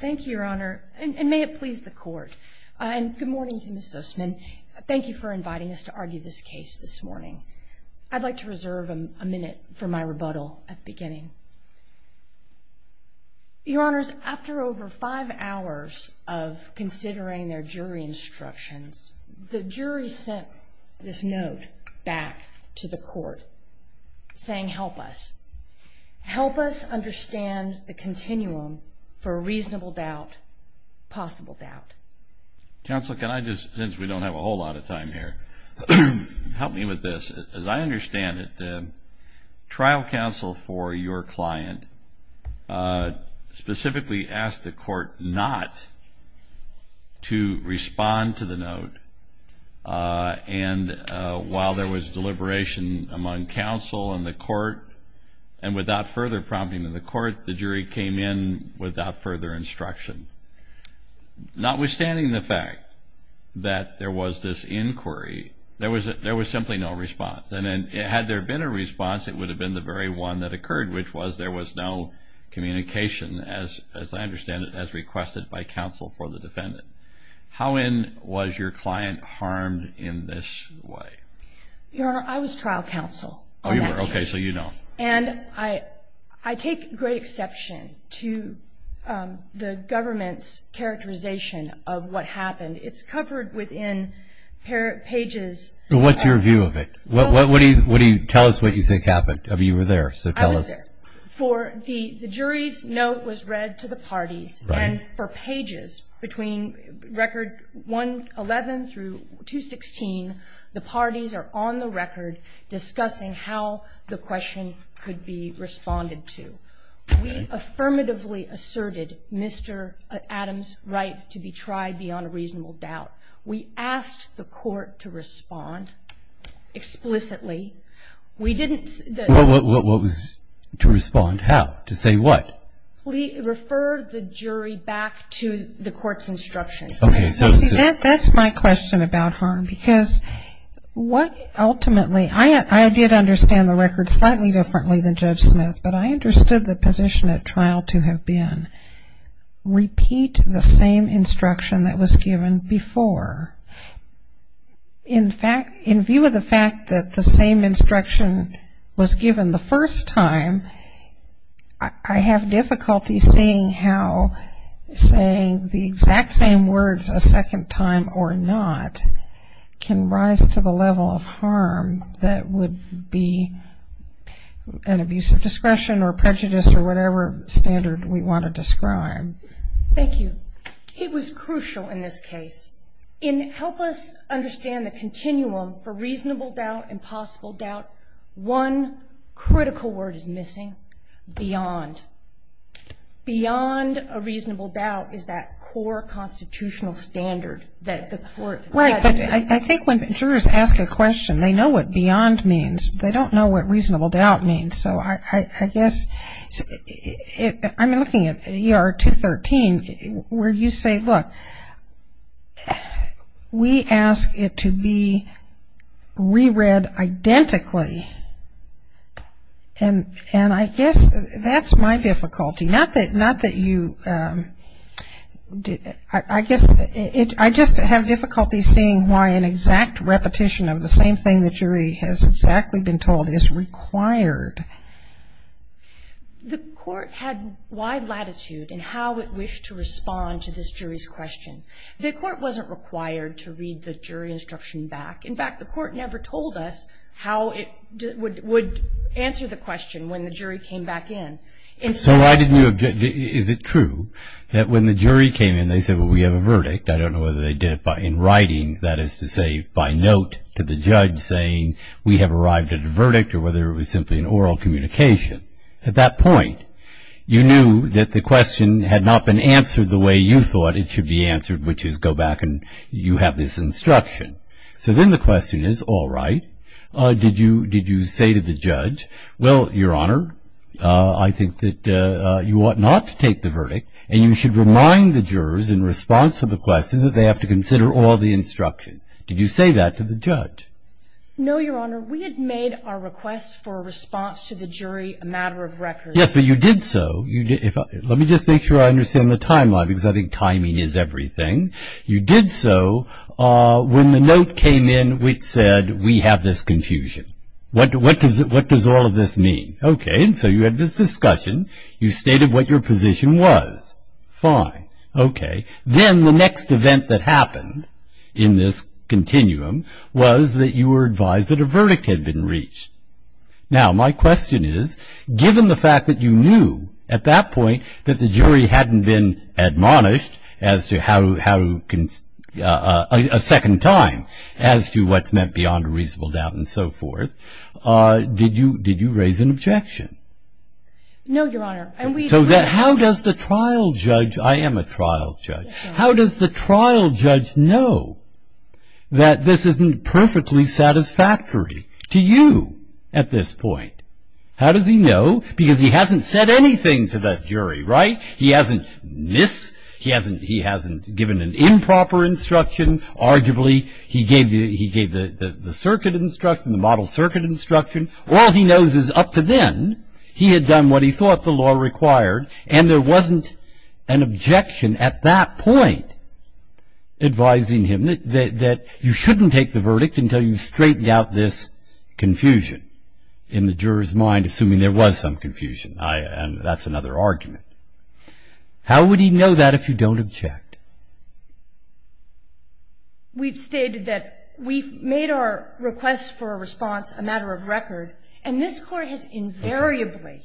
thank you your honor and may it please the court and good morning to miss Sussman thank you for inviting us to argue this case this morning I'd like to reserve a minute for my rebuttal at the beginning your honors after over five hours of considering their jury instructions the jury sent this note back to the court saying help us help us understand the continuum for reasonable doubt possible doubt counsel can I just since we don't have a whole lot of time here help me with this as I understand it trial counsel for your client specifically asked the court not to respond to the note and while there was deliberation among counsel and the court and without further prompting to the court the jury came in without further instruction notwithstanding the fact that there was this inquiry there was there was simply no response and then it had there been a response it would have been the very one that occurred which was there was no communication as as I understand it as requested by counsel for the defendant how in was your client harmed in this way I was trial counsel and I I take great exception to the government's characterization of what happened it's covered within her pages what's your view of it what what what do you what do you tell us what you think happened to be there for the jury's note was read to the parties and for pages between record 11 through 216 the parties are on the record discussing how the question could be responded to we affirmatively asserted mr. Adams right to be tried beyond a reasonable doubt we asked the court to respond explicitly we didn't what was to respond how to say what we refer the jury back to the court's instructions that's my question about harm because what ultimately I did understand the record slightly differently than judge Smith but I understood the position at trial to have been repeat the same instruction that was given before in fact in view of the fact that the same instruction was given the first time I have difficulty seeing how saying the exact same words a second time or not can rise to the level of harm that would be an abuse of discretion or prejudice or whatever standard we want to describe thank you it was crucial in this case in help us understand the continuum for reasonable doubt and possible doubt one beyond a reasonable doubt is that core constitutional standard that the court right but I think when jurors ask a question they know what beyond means they don't know what reasonable doubt means so I guess I'm looking at er 213 where you say look we ask it to be reread identically and and I guess that's my difficulty not that not that you did I guess I just have difficulty seeing why an exact repetition of the same thing the jury has exactly been told is required the court had wide latitude and how it wished to respond to this jury's question the court wasn't required to read the jury instruction back in fact the court never told us how it would would answer the question when the jury came back in so I didn't you object is it true that when the jury came in they said well we have a verdict I don't know whether they did it by in writing that is to say by note to the judge saying we have arrived at a verdict or whether it was simply an oral communication at that point you knew that the question had not been answered the way you thought it should be answered which is go back and you have this instruction so then the question is all right did you did you say to the judge well your honor I think that you ought not to take the verdict and you should remind the jurors in response to the question that they have to consider all the instructions did you say that to the judge no your honor we had made our requests for a response to the jury a matter of record yes but you did so you did if let me just make sure I understand the timeline because I think timing is everything you did so when the came in which said we have this confusion what does it what does all of this mean okay and so you had this discussion you stated what your position was fine okay then the next event that happened in this continuum was that you were advised that a verdict had been reached now my question is given the fact that you knew at that point that the jury hadn't been admonished as to how to a second time as to what's meant beyond a reasonable doubt and so forth did you did you raise an objection no your honor and we so that how does the trial judge I am a trial judge how does the trial judge know that this isn't perfectly satisfactory to you at this point how does he know because he hasn't said anything to the jury right he hasn't this he hasn't he hasn't given an improper instruction arguably he gave you he gave the circuit instruction the model circuit instruction all he knows is up to then he had done what he thought the law required and there wasn't an objection at that point advising him that you shouldn't take the verdict until you straighten out this confusion in the jurors mind assuming there was some confusion I and that's another argument how would he know that if you don't object we've stated that we've made our request for a response a matter of record and this court has invariably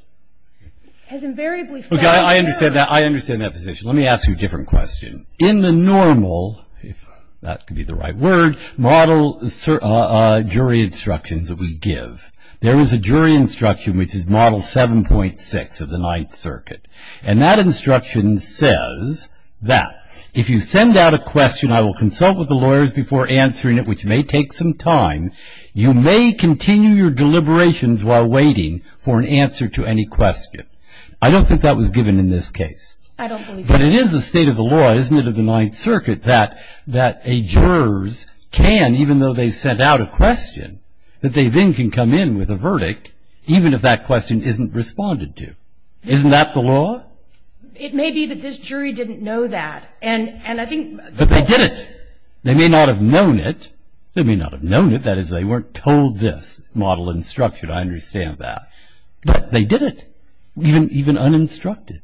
has invariably okay I understand that I understand that position let me ask you a different question in the normal if that could be the right word model jury instructions that we give there is a jury instruction which is model 7.6 of the Ninth Circuit and that instruction says that if you send out a question I will consult with the lawyers before answering it which may take some time you may continue your deliberations while waiting for an answer to any question I don't think that was given in this case but it is a law isn't it of the Ninth Circuit that that a jurors can even though they sent out a question that they then can come in with a verdict even if that question isn't responded to isn't that the law it may be that this jury didn't know that and and I think but they did it they may not have known it they may not have known it that is they weren't told this model instruction I understand that but they did it even even uninstructed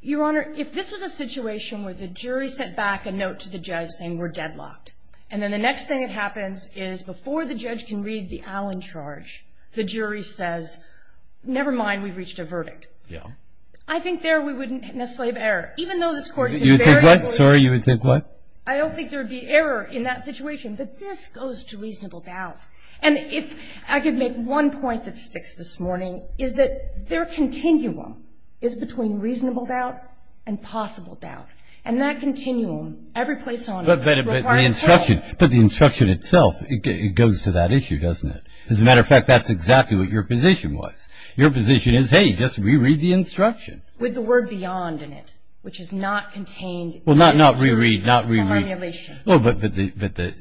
your honor if this was a situation where the jury sent back a note to the judge saying we're deadlocked and then the next thing that happens is before the judge can read the Allen charge the jury says never mind we've reached a verdict yeah I think there we wouldn't necessarily have error even though this court you think what sorry you would think what I don't think there would be error in that situation but this goes to morning is that their continuum is between reasonable doubt and possible doubt and that continuum every place on the instruction but the instruction itself it goes to that issue doesn't it as a matter of fact that's exactly what your position was your position is hey just reread the instruction with the word beyond in it which is not contained well not not reread not really well but but the but the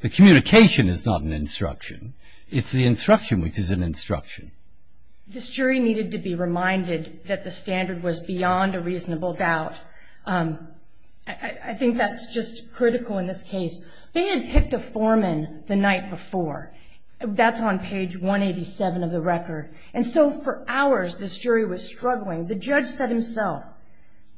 the communication is not an instruction it's the instruction which is an instruction this jury needed to be reminded that the standard was beyond a reasonable doubt I think that's just critical in this case they had picked a foreman the night before that's on page 187 of the record and so for hours this jury was struggling the judge said himself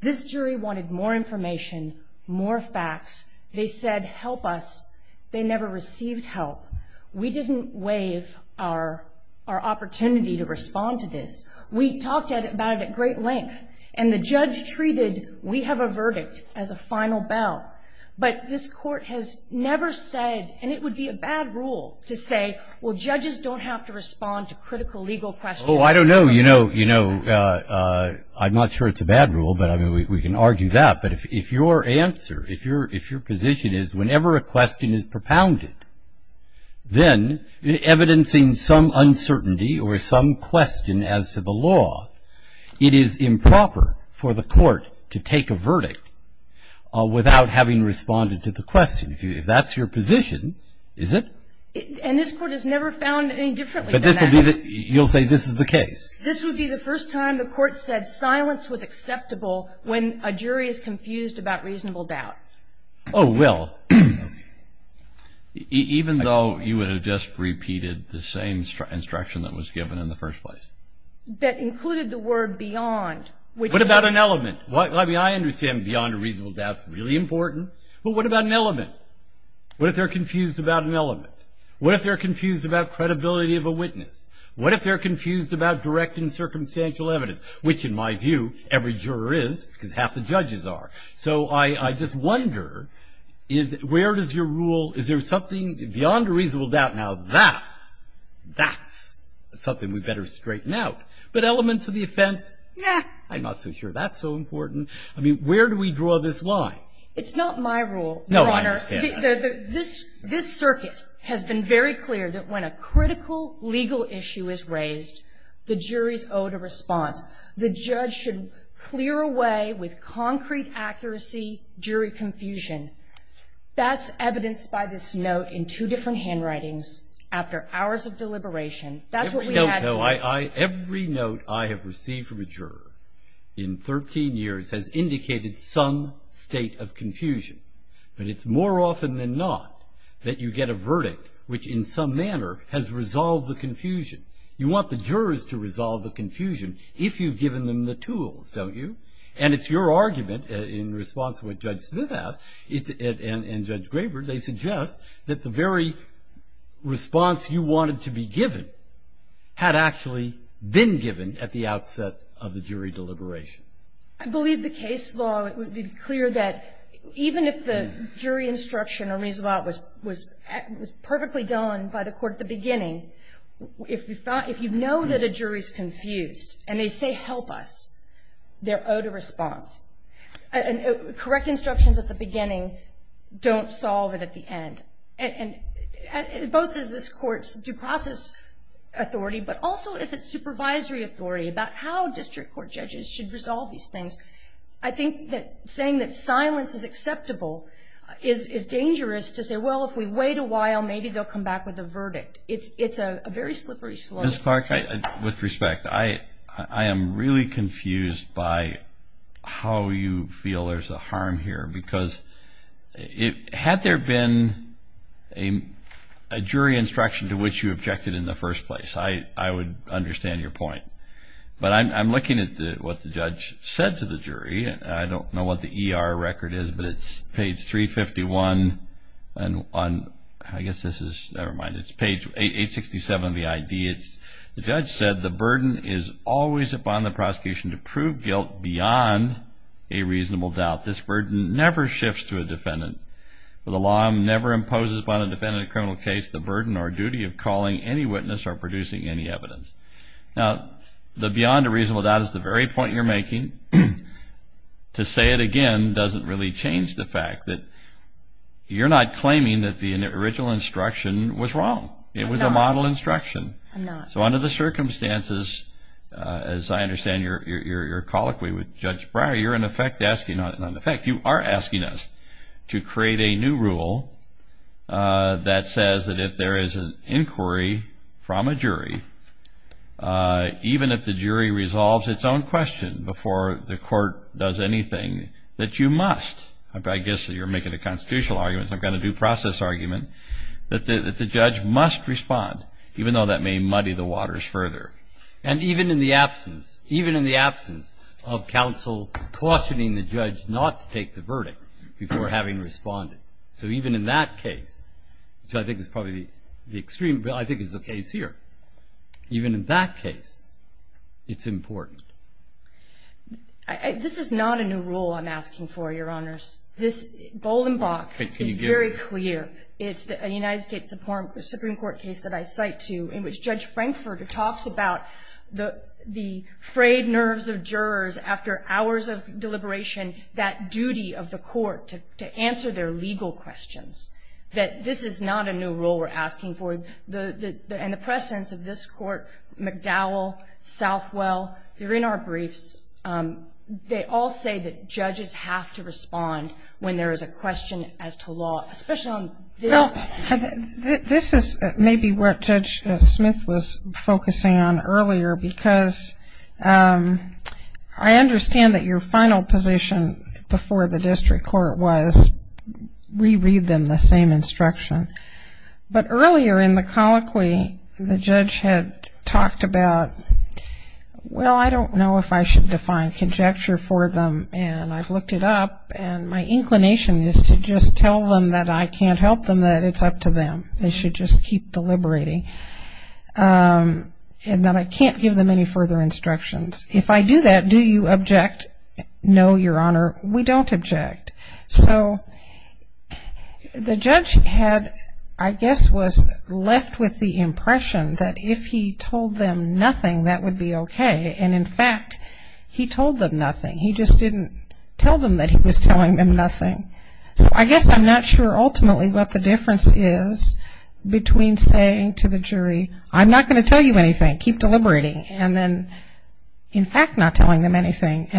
this jury wanted more information more facts they said help us they never received help we didn't waive our our opportunity to respond to this we talked about it at great length and the judge treated we have a verdict as a final bell but this court has never said and it would be a bad rule to say well judges don't have to respond to critical legal questions oh I don't know you know you know I'm not sure it's a bad rule but I mean we can argue that but if your answer if your if your position is whenever a question is propounded then evidencing some uncertainty or some question as to the law it is improper for the court to take a verdict without having responded to the question if that's your position is it and this court has never found any differently but this will be that you'll say this is the case this would be the first time the court said silence was acceptable when a jury is confused about reasonable doubt oh well even though you would have just repeated the same instruction that was given in the first place that included the word beyond which what about an element what I mean I understand beyond a reasonable doubt it's really important but what about an element what if they're confused about an element what if they're confused about credibility of a witness what if they're confused about direct and circumstantial evidence which in my mind are so I I just wonder is where does your rule is there something beyond a reasonable doubt now that's that's something we better straighten out but elements of the offense yeah I'm not so sure that's so important I mean where do we draw this line it's not my rule no I understand this this circuit has been very clear that when a critical legal issue is raised the jury's owed a response the judge should clear away with concrete accuracy jury confusion that's evidenced by this note in two different handwritings after hours of deliberation that's what we know I I every note I have received from a juror in 13 years has indicated some state of confusion but it's more often than not that you get a verdict which in some manner has resolved the confusion you want the jurors to resolve the confusion if you've given them the tools don't you and it's your argument in response to what judge Smith asked it and judge Graber they suggest that the very response you wanted to be given had actually been given at the outset of the jury deliberations I believe the case law it would be clear that even if the jury instruction or reason about was was was perfectly done by the court at the used and they say help us their own response and correct instructions at the beginning don't solve it at the end and both is this courts due process authority but also is it supervisory authority about how district court judges should resolve these things I think that saying that silence is acceptable is is dangerous to say well if we wait a while maybe they'll come back with a verdict it's it's a very slippery slope with respect I I am really confused by how you feel there's a harm here because it had there been a jury instruction to which you objected in the first place I I would understand your point but I'm looking at what the judge said to the jury and I don't know what the ER record is but it's page 351 and on I guess this is never mind it's page 867 the idea it's the judge said the burden is always upon the prosecution to prove guilt beyond a reasonable doubt this burden never shifts to a defendant for the law never imposes upon a defendant criminal case the burden or duty of calling any witness or producing any evidence now the beyond a reasonable doubt is the very point you're making to say it again doesn't really change the fact that you're not claiming that the original instruction was wrong it was a model instruction so under the circumstances as I understand your your colloquy with Judge Breyer you're in effect asking on an effect you are asking us to create a new rule that says that if there is an even if the jury resolves its own question before the court does anything that you must I guess that you're making a constitutional arguments I've got a due process argument that the judge must respond even though that may muddy the waters further and even in the absence even in the absence of counsel cautioning the judge not to take the verdict before having responded so even in that case which I think is probably the extreme but I think is the case here even in that case it's important this is not a new rule I'm asking for your honors this Bolenbach is very clear it's the United States Supreme Court case that I cite to in which Judge Frankfurter talks about the the frayed nerves of jurors after hours of deliberation that duty of the court to answer their legal questions that this is not a new rule we're asking for the and the presence of this court McDowell Southwell they're in our briefs they all say that judges have to respond when there is a question as to law special this is maybe what Judge Smith was focusing on earlier because I understand that your final position before the but earlier in the colloquy the judge had talked about well I don't know if I should define conjecture for them and I've looked it up and my inclination is to just tell them that I can't help them that it's up to them they should just keep deliberating and that I can't give them any further instructions if I do that do you object no your honor we don't object so the judge had I guess was left with the impression that if he told them nothing that would be okay and in fact he told them nothing he just didn't tell them that he was telling them nothing so I guess I'm not sure ultimately what the difference is between saying to the jury I'm not going to tell you anything keep anything and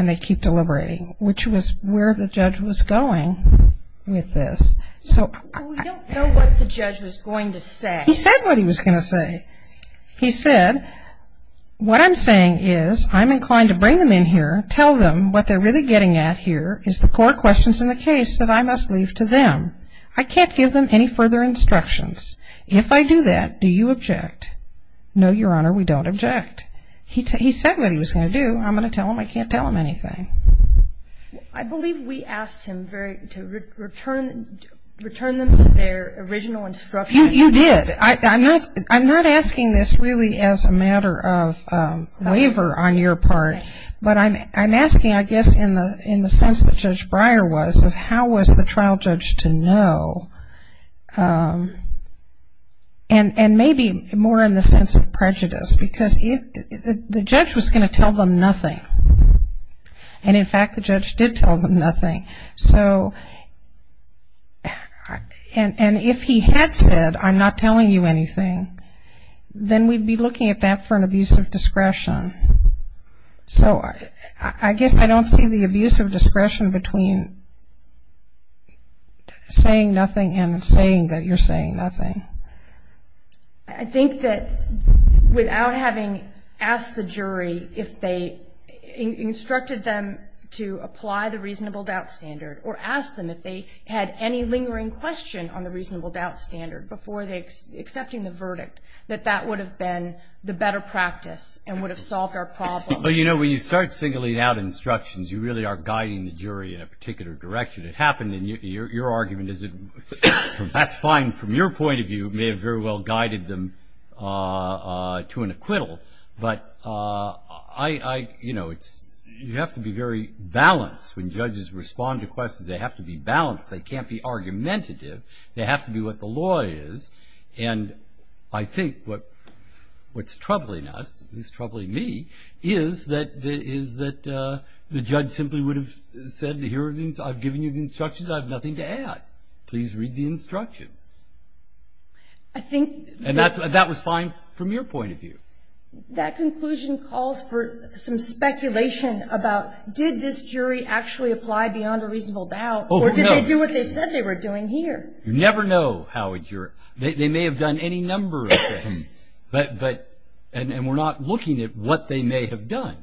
they keep deliberating which was where the judge was going with this so he said what he was gonna say he said what I'm saying is I'm inclined to bring them in here tell them what they're really getting at here is the core questions in the case that I must leave to them I can't give them any further instructions if I do that do you object no your honor we don't object he can't tell them anything I believe we asked him very to return return them to their original instruction you did I'm not I'm not asking this really as a matter of waiver on your part but I'm I'm asking I guess in the in the sense that judge Breyer was of how was the trial judge to know and and maybe more sense of prejudice because the judge was going to tell them nothing and in fact the judge did tell them nothing so and and if he had said I'm not telling you anything then we'd be looking at that for an abuse of discretion so I guess I don't see the abuse of discretion between saying nothing and saying that you're saying nothing I think that without having asked the jury if they instructed them to apply the reasonable doubt standard or ask them if they had any lingering question on the reasonable doubt standard before they accepting the verdict that that would have been the better practice and would have solved our problem but you know when you start singling out instructions you really are guiding the jury in a particular direction it happened in your argument is it that's fine from your point of view may have very well guided them to an acquittal but I you know it's you have to be very balanced when judges respond to questions they have to be balanced they can't be argumentative they have to be what the law is and I think what what's troubling us is troubling me is that there is that the judge simply would have said here are I've given you the instructions I have nothing to add please read the instructions I think and that's what that was fine from your point of view that conclusion calls for some speculation about did this jury actually apply beyond a reasonable doubt or do what they said they were doing here you never know how it's your they may have done any number but but and we're not looking at what they may have done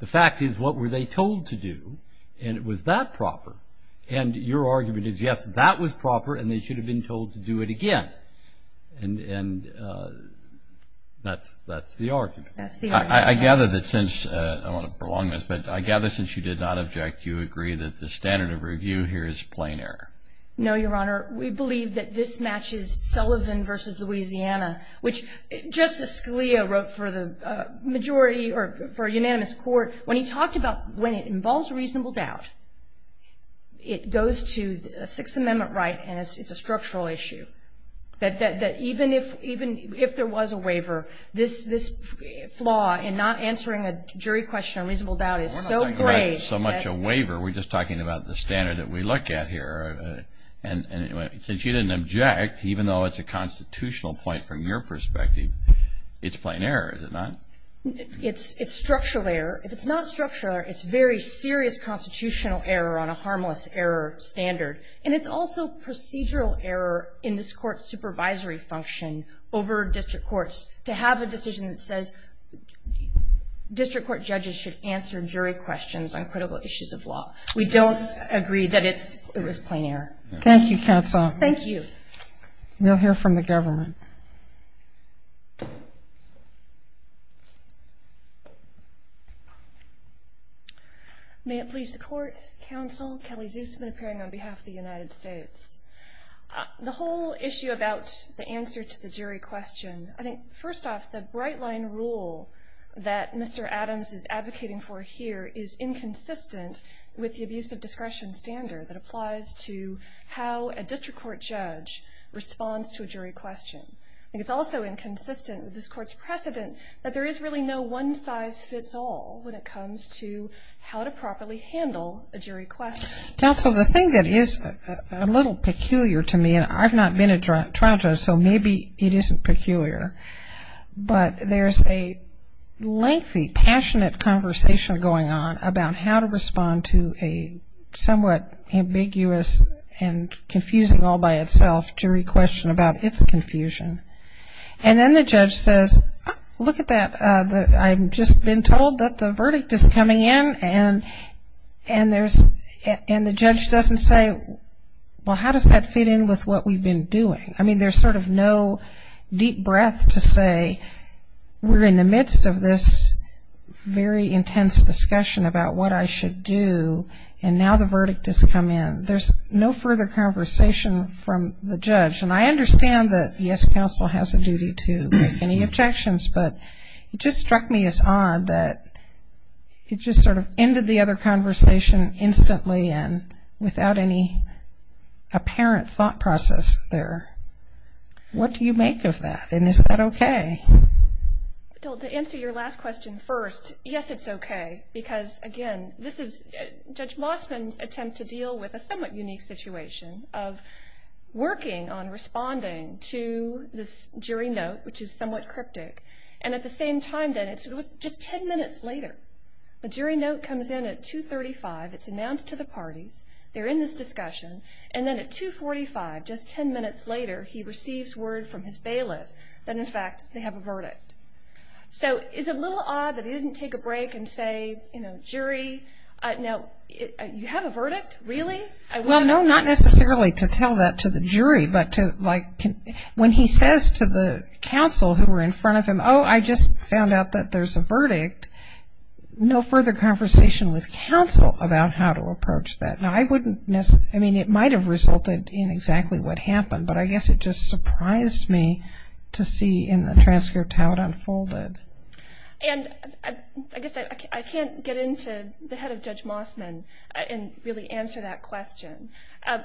the fact is what were they told to do and it is that proper and your argument is yes that was proper and they should have been told to do it again and and that's that's the argument I gather that since I want to prolong this but I gather since you did not object you agree that the standard of review here is plain air no your honor we believe that this matches Sullivan versus Louisiana which justice Scalia wrote for the majority or unanimous court when he talked about when it involves reasonable doubt it goes to the Sixth Amendment right and it's a structural issue that that even if even if there was a waiver this this flaw in not answering a jury question unreasonable doubt is so great so much a waiver we're just talking about the standard that we look at here and anyway since you didn't object even though it's a constitutional point from your perspective it's plain error is it not it's it's structural error if it's not structural it's very serious constitutional error on a harmless error standard and it's also procedural error in this court supervisory function over district courts to have a decision that says district court judges should answer jury questions on critical issues of law we don't agree that it's it was plain air thank you counsel thank you we'll hear from the government may it please the court counsel Kelly Zeus been appearing on behalf of the United States the whole issue about the answer to the jury question I think first off the bright line rule that mr. Adams is advocating for here is inconsistent with the abuse of discretion standard that responds to a jury question I think it's also inconsistent with this court's precedent that there is really no one-size-fits-all when it comes to how to properly handle a jury quest now so the thing that is a little peculiar to me and I've not been a drunk trial judge so maybe it isn't peculiar but there's a lengthy passionate conversation going on about how to respond to a somewhat ambiguous and confusing all by itself jury question about its confusion and then the judge says look at that the I've just been told that the verdict is coming in and and there's and the judge doesn't say well how does that fit in with what we've been doing I mean there's sort of no deep breath to say we're in the midst of this very intense discussion about what I should do and now the verdict has come in there's no further conversation from the judge and I understand that yes counsel has a duty to make any objections but it just struck me as odd that it just sort of ended the other conversation instantly and without any apparent thought process there what do you make of that and is that okay don't answer your last question first yes it's okay because again this is judge Lostman's attempt to deal with a somewhat unique situation of working on responding to this jury note which is somewhat cryptic and at the same time that it's just 10 minutes later the jury note comes in at 235 it's announced to the parties they're in this discussion and then at 245 just 10 minutes later he receives word from his bailiff that in fact they have a verdict so it's a break and say you know jury no you have a verdict really I well no not necessarily to tell that to the jury but to like when he says to the counsel who were in front of him oh I just found out that there's a verdict no further conversation with counsel about how to approach that now I wouldn't miss I mean it might have resulted in exactly what happened but I guess it just surprised me to see in the transcript how it unfolded and I guess I can't get into the head of judge Mossman and really answer that question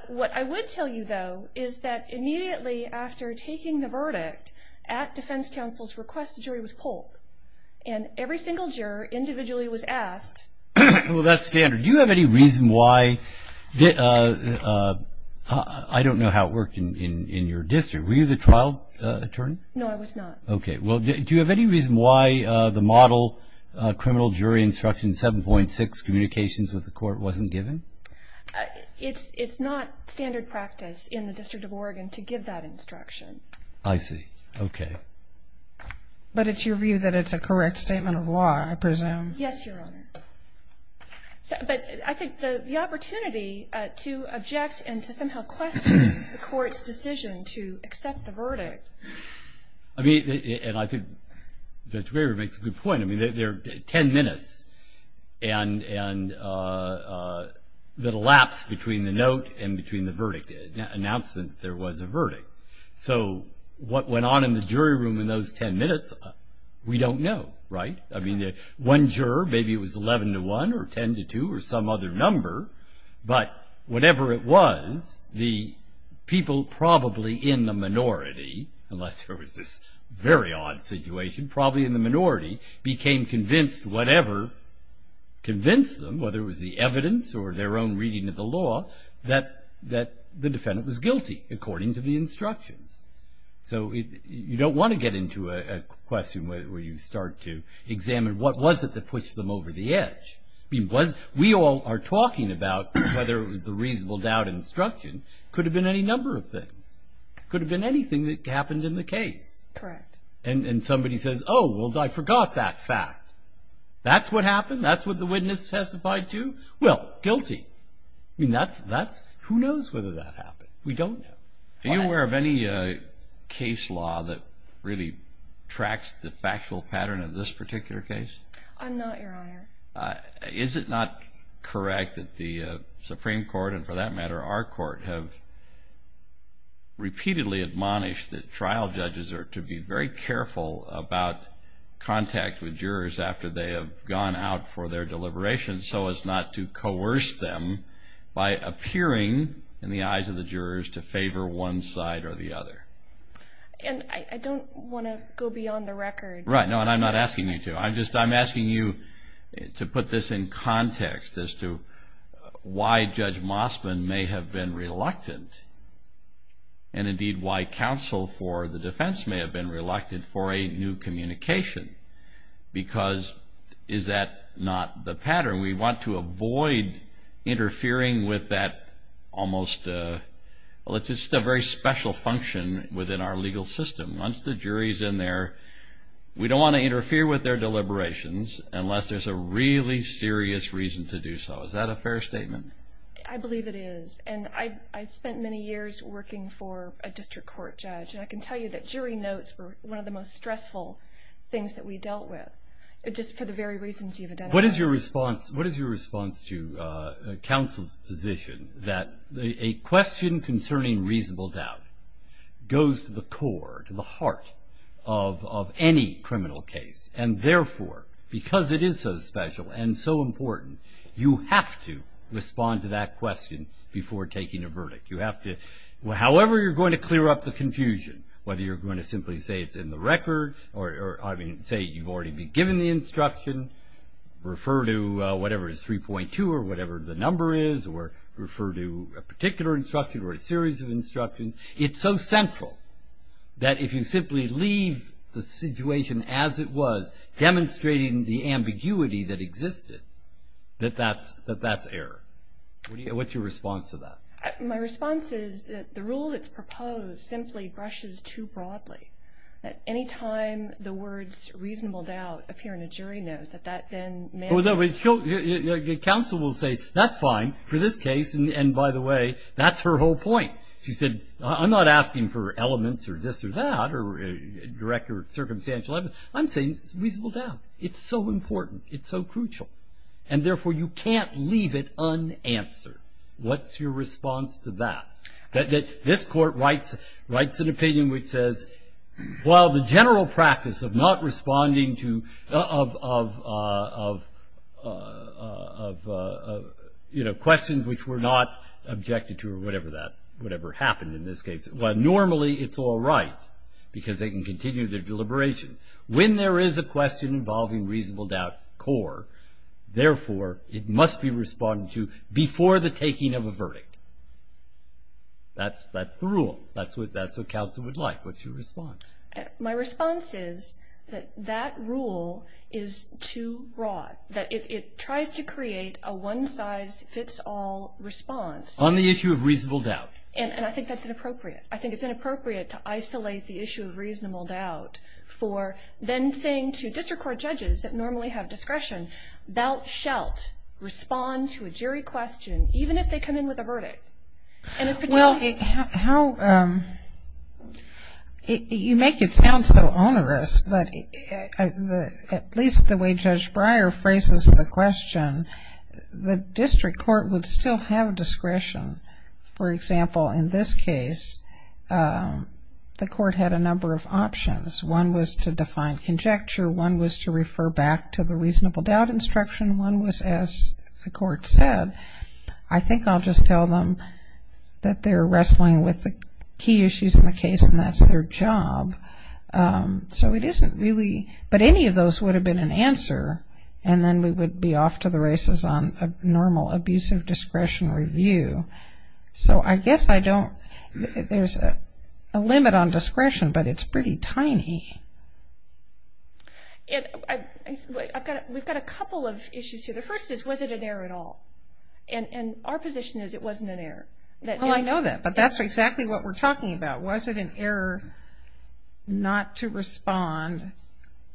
what I would tell you though is that immediately after taking the verdict at defense counsel's request the jury was pulled and every single juror individually was asked well that's standard you have any reason why that I don't know how it worked in in your district were you the trial attorney no I was not okay well do you have any reason why the model criminal jury instruction 7.6 communications with the court wasn't given it's it's not standard practice in the District of Oregon to give that instruction I see okay but it's your view that it's a correct statement of law I presume yes your honor but I think the opportunity to object and to somehow question the court's decision to accept the verdict I mean and I think that's where it makes a good point I mean they're 10 minutes and and that elapsed between the note and between the verdict announcement there was a verdict so what went on in the jury room in those 10 minutes we don't know right I mean the one juror maybe it was 11 to 1 or 10 to 2 or some other number but whatever it was the people probably in the minority unless there was this very odd situation probably in the minority became convinced whatever convinced them whether it was the evidence or their own reading of the law that that the defendant was guilty according to the instructions so you don't want to get into a question where you start to examine what was it that puts them over the edge because we all are talking about whether it was the reasonable doubt instruction could have been any number of things could have been anything that happened in the case and and somebody says oh well I forgot that fact that's what happened that's what the witness testified to well guilty I mean that's that's who knows whether that happened we don't know are you aware of any case law that really tracks the factual pattern of this particular case I'm not your honor is it not correct that the Supreme Court and for that matter our court have repeatedly admonished that trial judges are to be very careful about contact with jurors after they have gone out for their deliberations so as not to coerce them by appearing in the eyes of the jurors to favor one side or the other and I don't want to go beyond the record right no and I'm not asking you to I'm just I'm asking you to put this in context as to why Judge Mosman may have been reluctant and indeed why counsel for the defense may have been reluctant for a new communication because is that not the pattern we want to avoid interfering with that almost well it's just a very special function within our legal system once the jury's in there we don't want to interfere with their deliberations unless there's a really serious reason to do so is that a fair statement I believe it is and I've spent many years working for a district court judge and I can tell you that jury notes were one of the most stressful things that we dealt with it just for the very reasons you've identified what is your response what is your response to counsel's position that a question concerning reasonable doubt goes to the core to the heart of any criminal case and therefore because it is so special and so important you have to respond to that question before taking a verdict you have to however you're going to clear up the confusion whether you're going to simply say it's in the record or I mean say you've already been given the instruction refer to whatever is 3.2 or whatever the number is or refer to a particular instruction or a series of instructions it's so central that if you simply leave the situation as it was demonstrating the ambiguity that existed that that's that that's error what's your response to that my response is that the rule that's proposed simply brushes too broadly at any time the words reasonable doubt appear in a jury note that that then council will say that's fine for this case and by the way that's her whole point she said I'm not asking for elements or this or that or director of circumstantial evidence I'm saying it's reasonable doubt it's so important it's so crucial and therefore you can't leave it unanswered what's your response to that that this court writes writes an opinion which says while the general practice of not responding to of you know questions which were not objected to or whatever that whatever happened in this case well normally it's all right because they can continue their deliberations when there is a question involving reasonable doubt core therefore it must be responding to before the taking of a verdict that's that's the rule that's my response is that that rule is too broad that it tries to create a one-size-fits-all response on the issue of reasonable doubt and and I think that's inappropriate I think it's inappropriate to isolate the issue of reasonable doubt for then saying to district court judges that normally have discretion thou shalt respond to a jury question even if they come in with a verdict and it could you make it sound so onerous but at least the way judge Breyer phrases the question the district court would still have discretion for example in this case the court had a number of options one was to define conjecture one was to refer back to the reasonable doubt instruction one was as the court said I think I'll just tell them that they're wrestling with the key issues in the case and that's their job so it isn't really but any of those would have been an answer and then we would be off to the races on a normal abusive discretion review so I guess I don't there's a limit on discretion but it's pretty tiny we've got a couple of issues here the first is was it an error at all and and our position is it wasn't an error that well I know that but that's exactly what we're talking about was it an error not to respond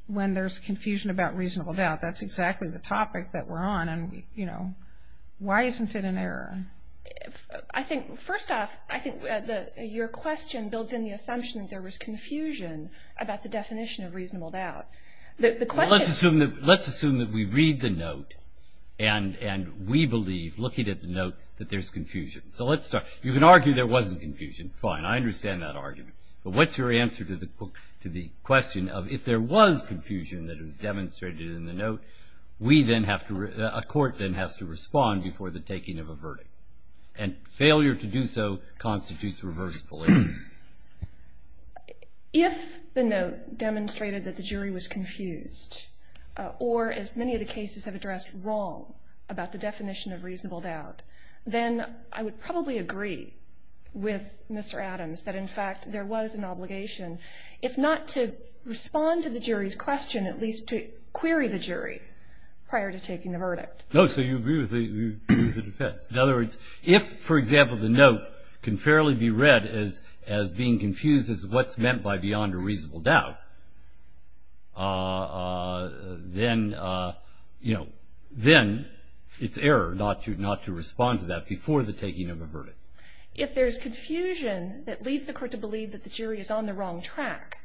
when there's confusion about reasonable doubt that's exactly the topic that we're on and you know why isn't it an error I think first off I think that your question builds in the assumption that there was confusion about the definition of reasonable doubt the question let's assume that let's assume that we read the note and and we believe looking at the note that there's confusion so let's start you can argue there wasn't confusion fine I understand that argument but what's your answer to the book to the question of if there was confusion that was demonstrated in the note we then have to a court then has to respond before the taking of a verdict and failure to do so constitutes reverse police if the note demonstrated that the jury was confused or as many of the cases have addressed wrong about the definition of reasonable doubt then I would probably agree with mr. Adams that in fact there was an obligation if not to respond to the jury's question at least to query the jury prior to taking the verdict no so you agree with the defense in other words if for example the note can fairly be read as as being confused as what's meant by beyond a reasonable doubt then you know then it's error not to not to respond to that before the taking of a verdict if there's confusion that leads the court to believe that the jury is on the wrong track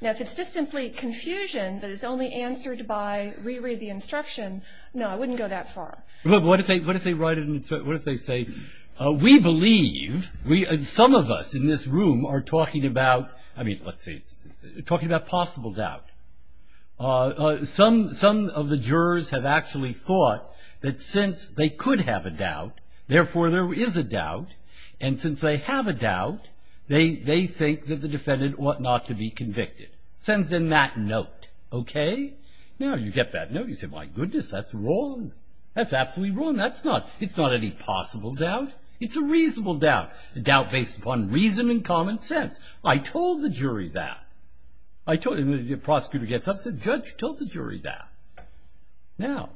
now if it's just simply confusion that is only answered by reread the instruction no I wouldn't go that far but what if they what if they write it and what if they say we believe we had some of us in this room are talking about I mean let's see it's talking about possible doubt some some of the jurors have actually thought that since they could have a doubt therefore there is a doubt and since they have a doubt they they think that the defendant ought not to be convicted sends in that note okay now you get that no you said my goodness that's wrong that's absolutely wrong that's not it's not any possible doubt it's a reasonable doubt a doubt based upon reason and common sense I told the jury that I told him the prosecutor gets upset judge told the jury that now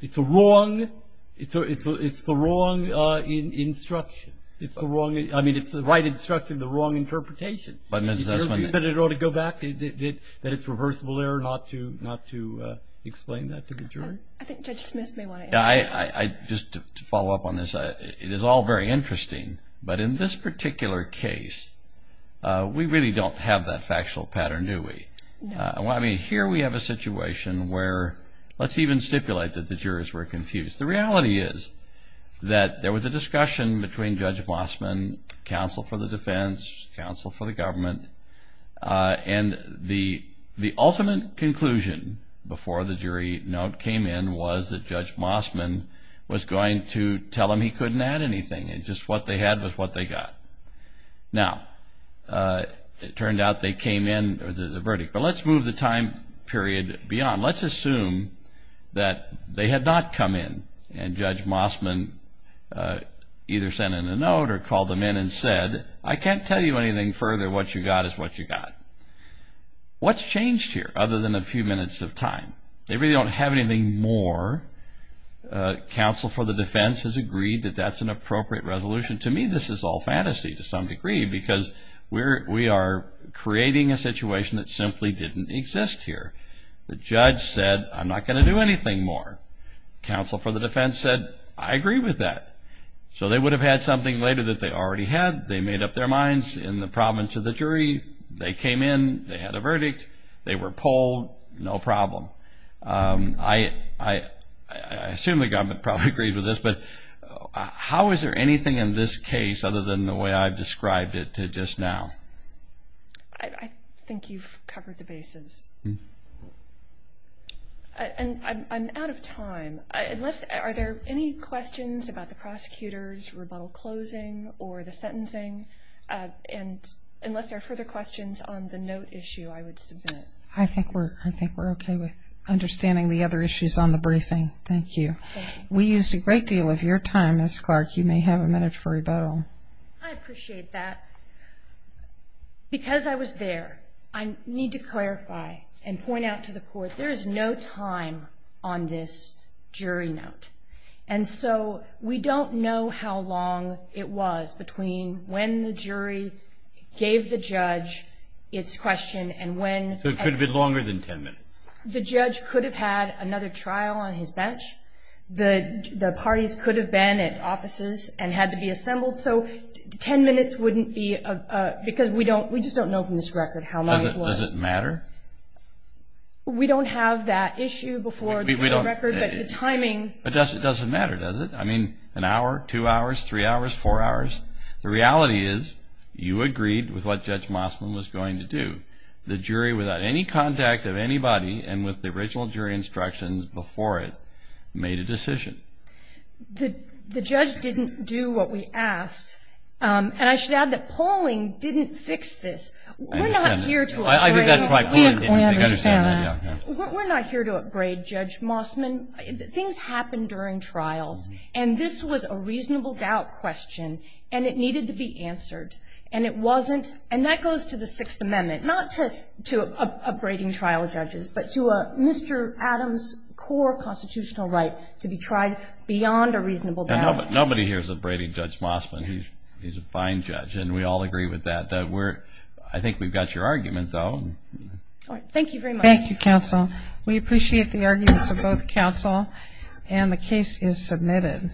it's a wrong it's a it's a it's the wrong instruction it's the wrong I mean it's the right instruction the wrong interpretation but it ought to go back that it's reversible error not to not to explain that to the jury I just to follow up on this it is all very interesting but in this particular case we really don't have that factual pattern do we I mean here we have a situation where let's even stipulate that the jurors were confused the reality is that there was a discussion between judge Mossman counsel for the defense counsel for the government and the the ultimate conclusion before the judge Mossman was going to tell him he couldn't add anything it's just what they had was what they got now it turned out they came in or the verdict but let's move the time period beyond let's assume that they had not come in and judge Mossman either sent in a note or called them in and said I can't tell you anything further what you got is what you got what's changed here other than a more counsel for the defense has agreed that that's an appropriate resolution to me this is all fantasy to some degree because we're we are creating a situation that simply didn't exist here the judge said I'm not going to do anything more counsel for the defense said I agree with that so they would have had something later that they already had they made up their minds in the province of the jury they came in they had a verdict they were pulled no problem I assume the government probably agree with this but how is there anything in this case other than the way I've described it to just now I think you've covered the basis and I'm out of time unless are there any questions about the prosecutors rebuttal closing or the sentencing and unless there are questions on the note issue I would submit I think we're I think we're okay with understanding the other issues on the briefing thank you we used a great deal of your time as Clark you may have a minute for rebuttal I appreciate that because I was there I need to clarify and point out to the court there is no time on this jury note and so we don't know how long it was between when the judge its question and when so it could have been longer than 10 minutes the judge could have had another trial on his bench the the parties could have been at offices and had to be assembled so 10 minutes wouldn't be a because we don't we just don't know from this record how much does it matter we don't have that issue before we don't record but the timing but does it doesn't matter does it I mean an hour two hours three hours four hours the reality is you agreed with what judge Mossman was going to do the jury without any contact of anybody and with the original jury instructions before it made a decision the judge didn't do what we asked and I should add that polling didn't fix this we're not here to I think that's my point we're not here to upgrade judge Mossman things happen during trials and this was a reasonable doubt question and it needed to be answered and it wasn't and that goes to the Sixth Amendment not to to a braiding trial judges but to a mr. Adams core constitutional right to be tried beyond a reasonable but nobody here's a braiding judge Mossman he's he's a fine judge and we all agree with that that we're I think we've got your argument though thank you thank you counsel we appreciate the arguments of both counsel and the case is submitted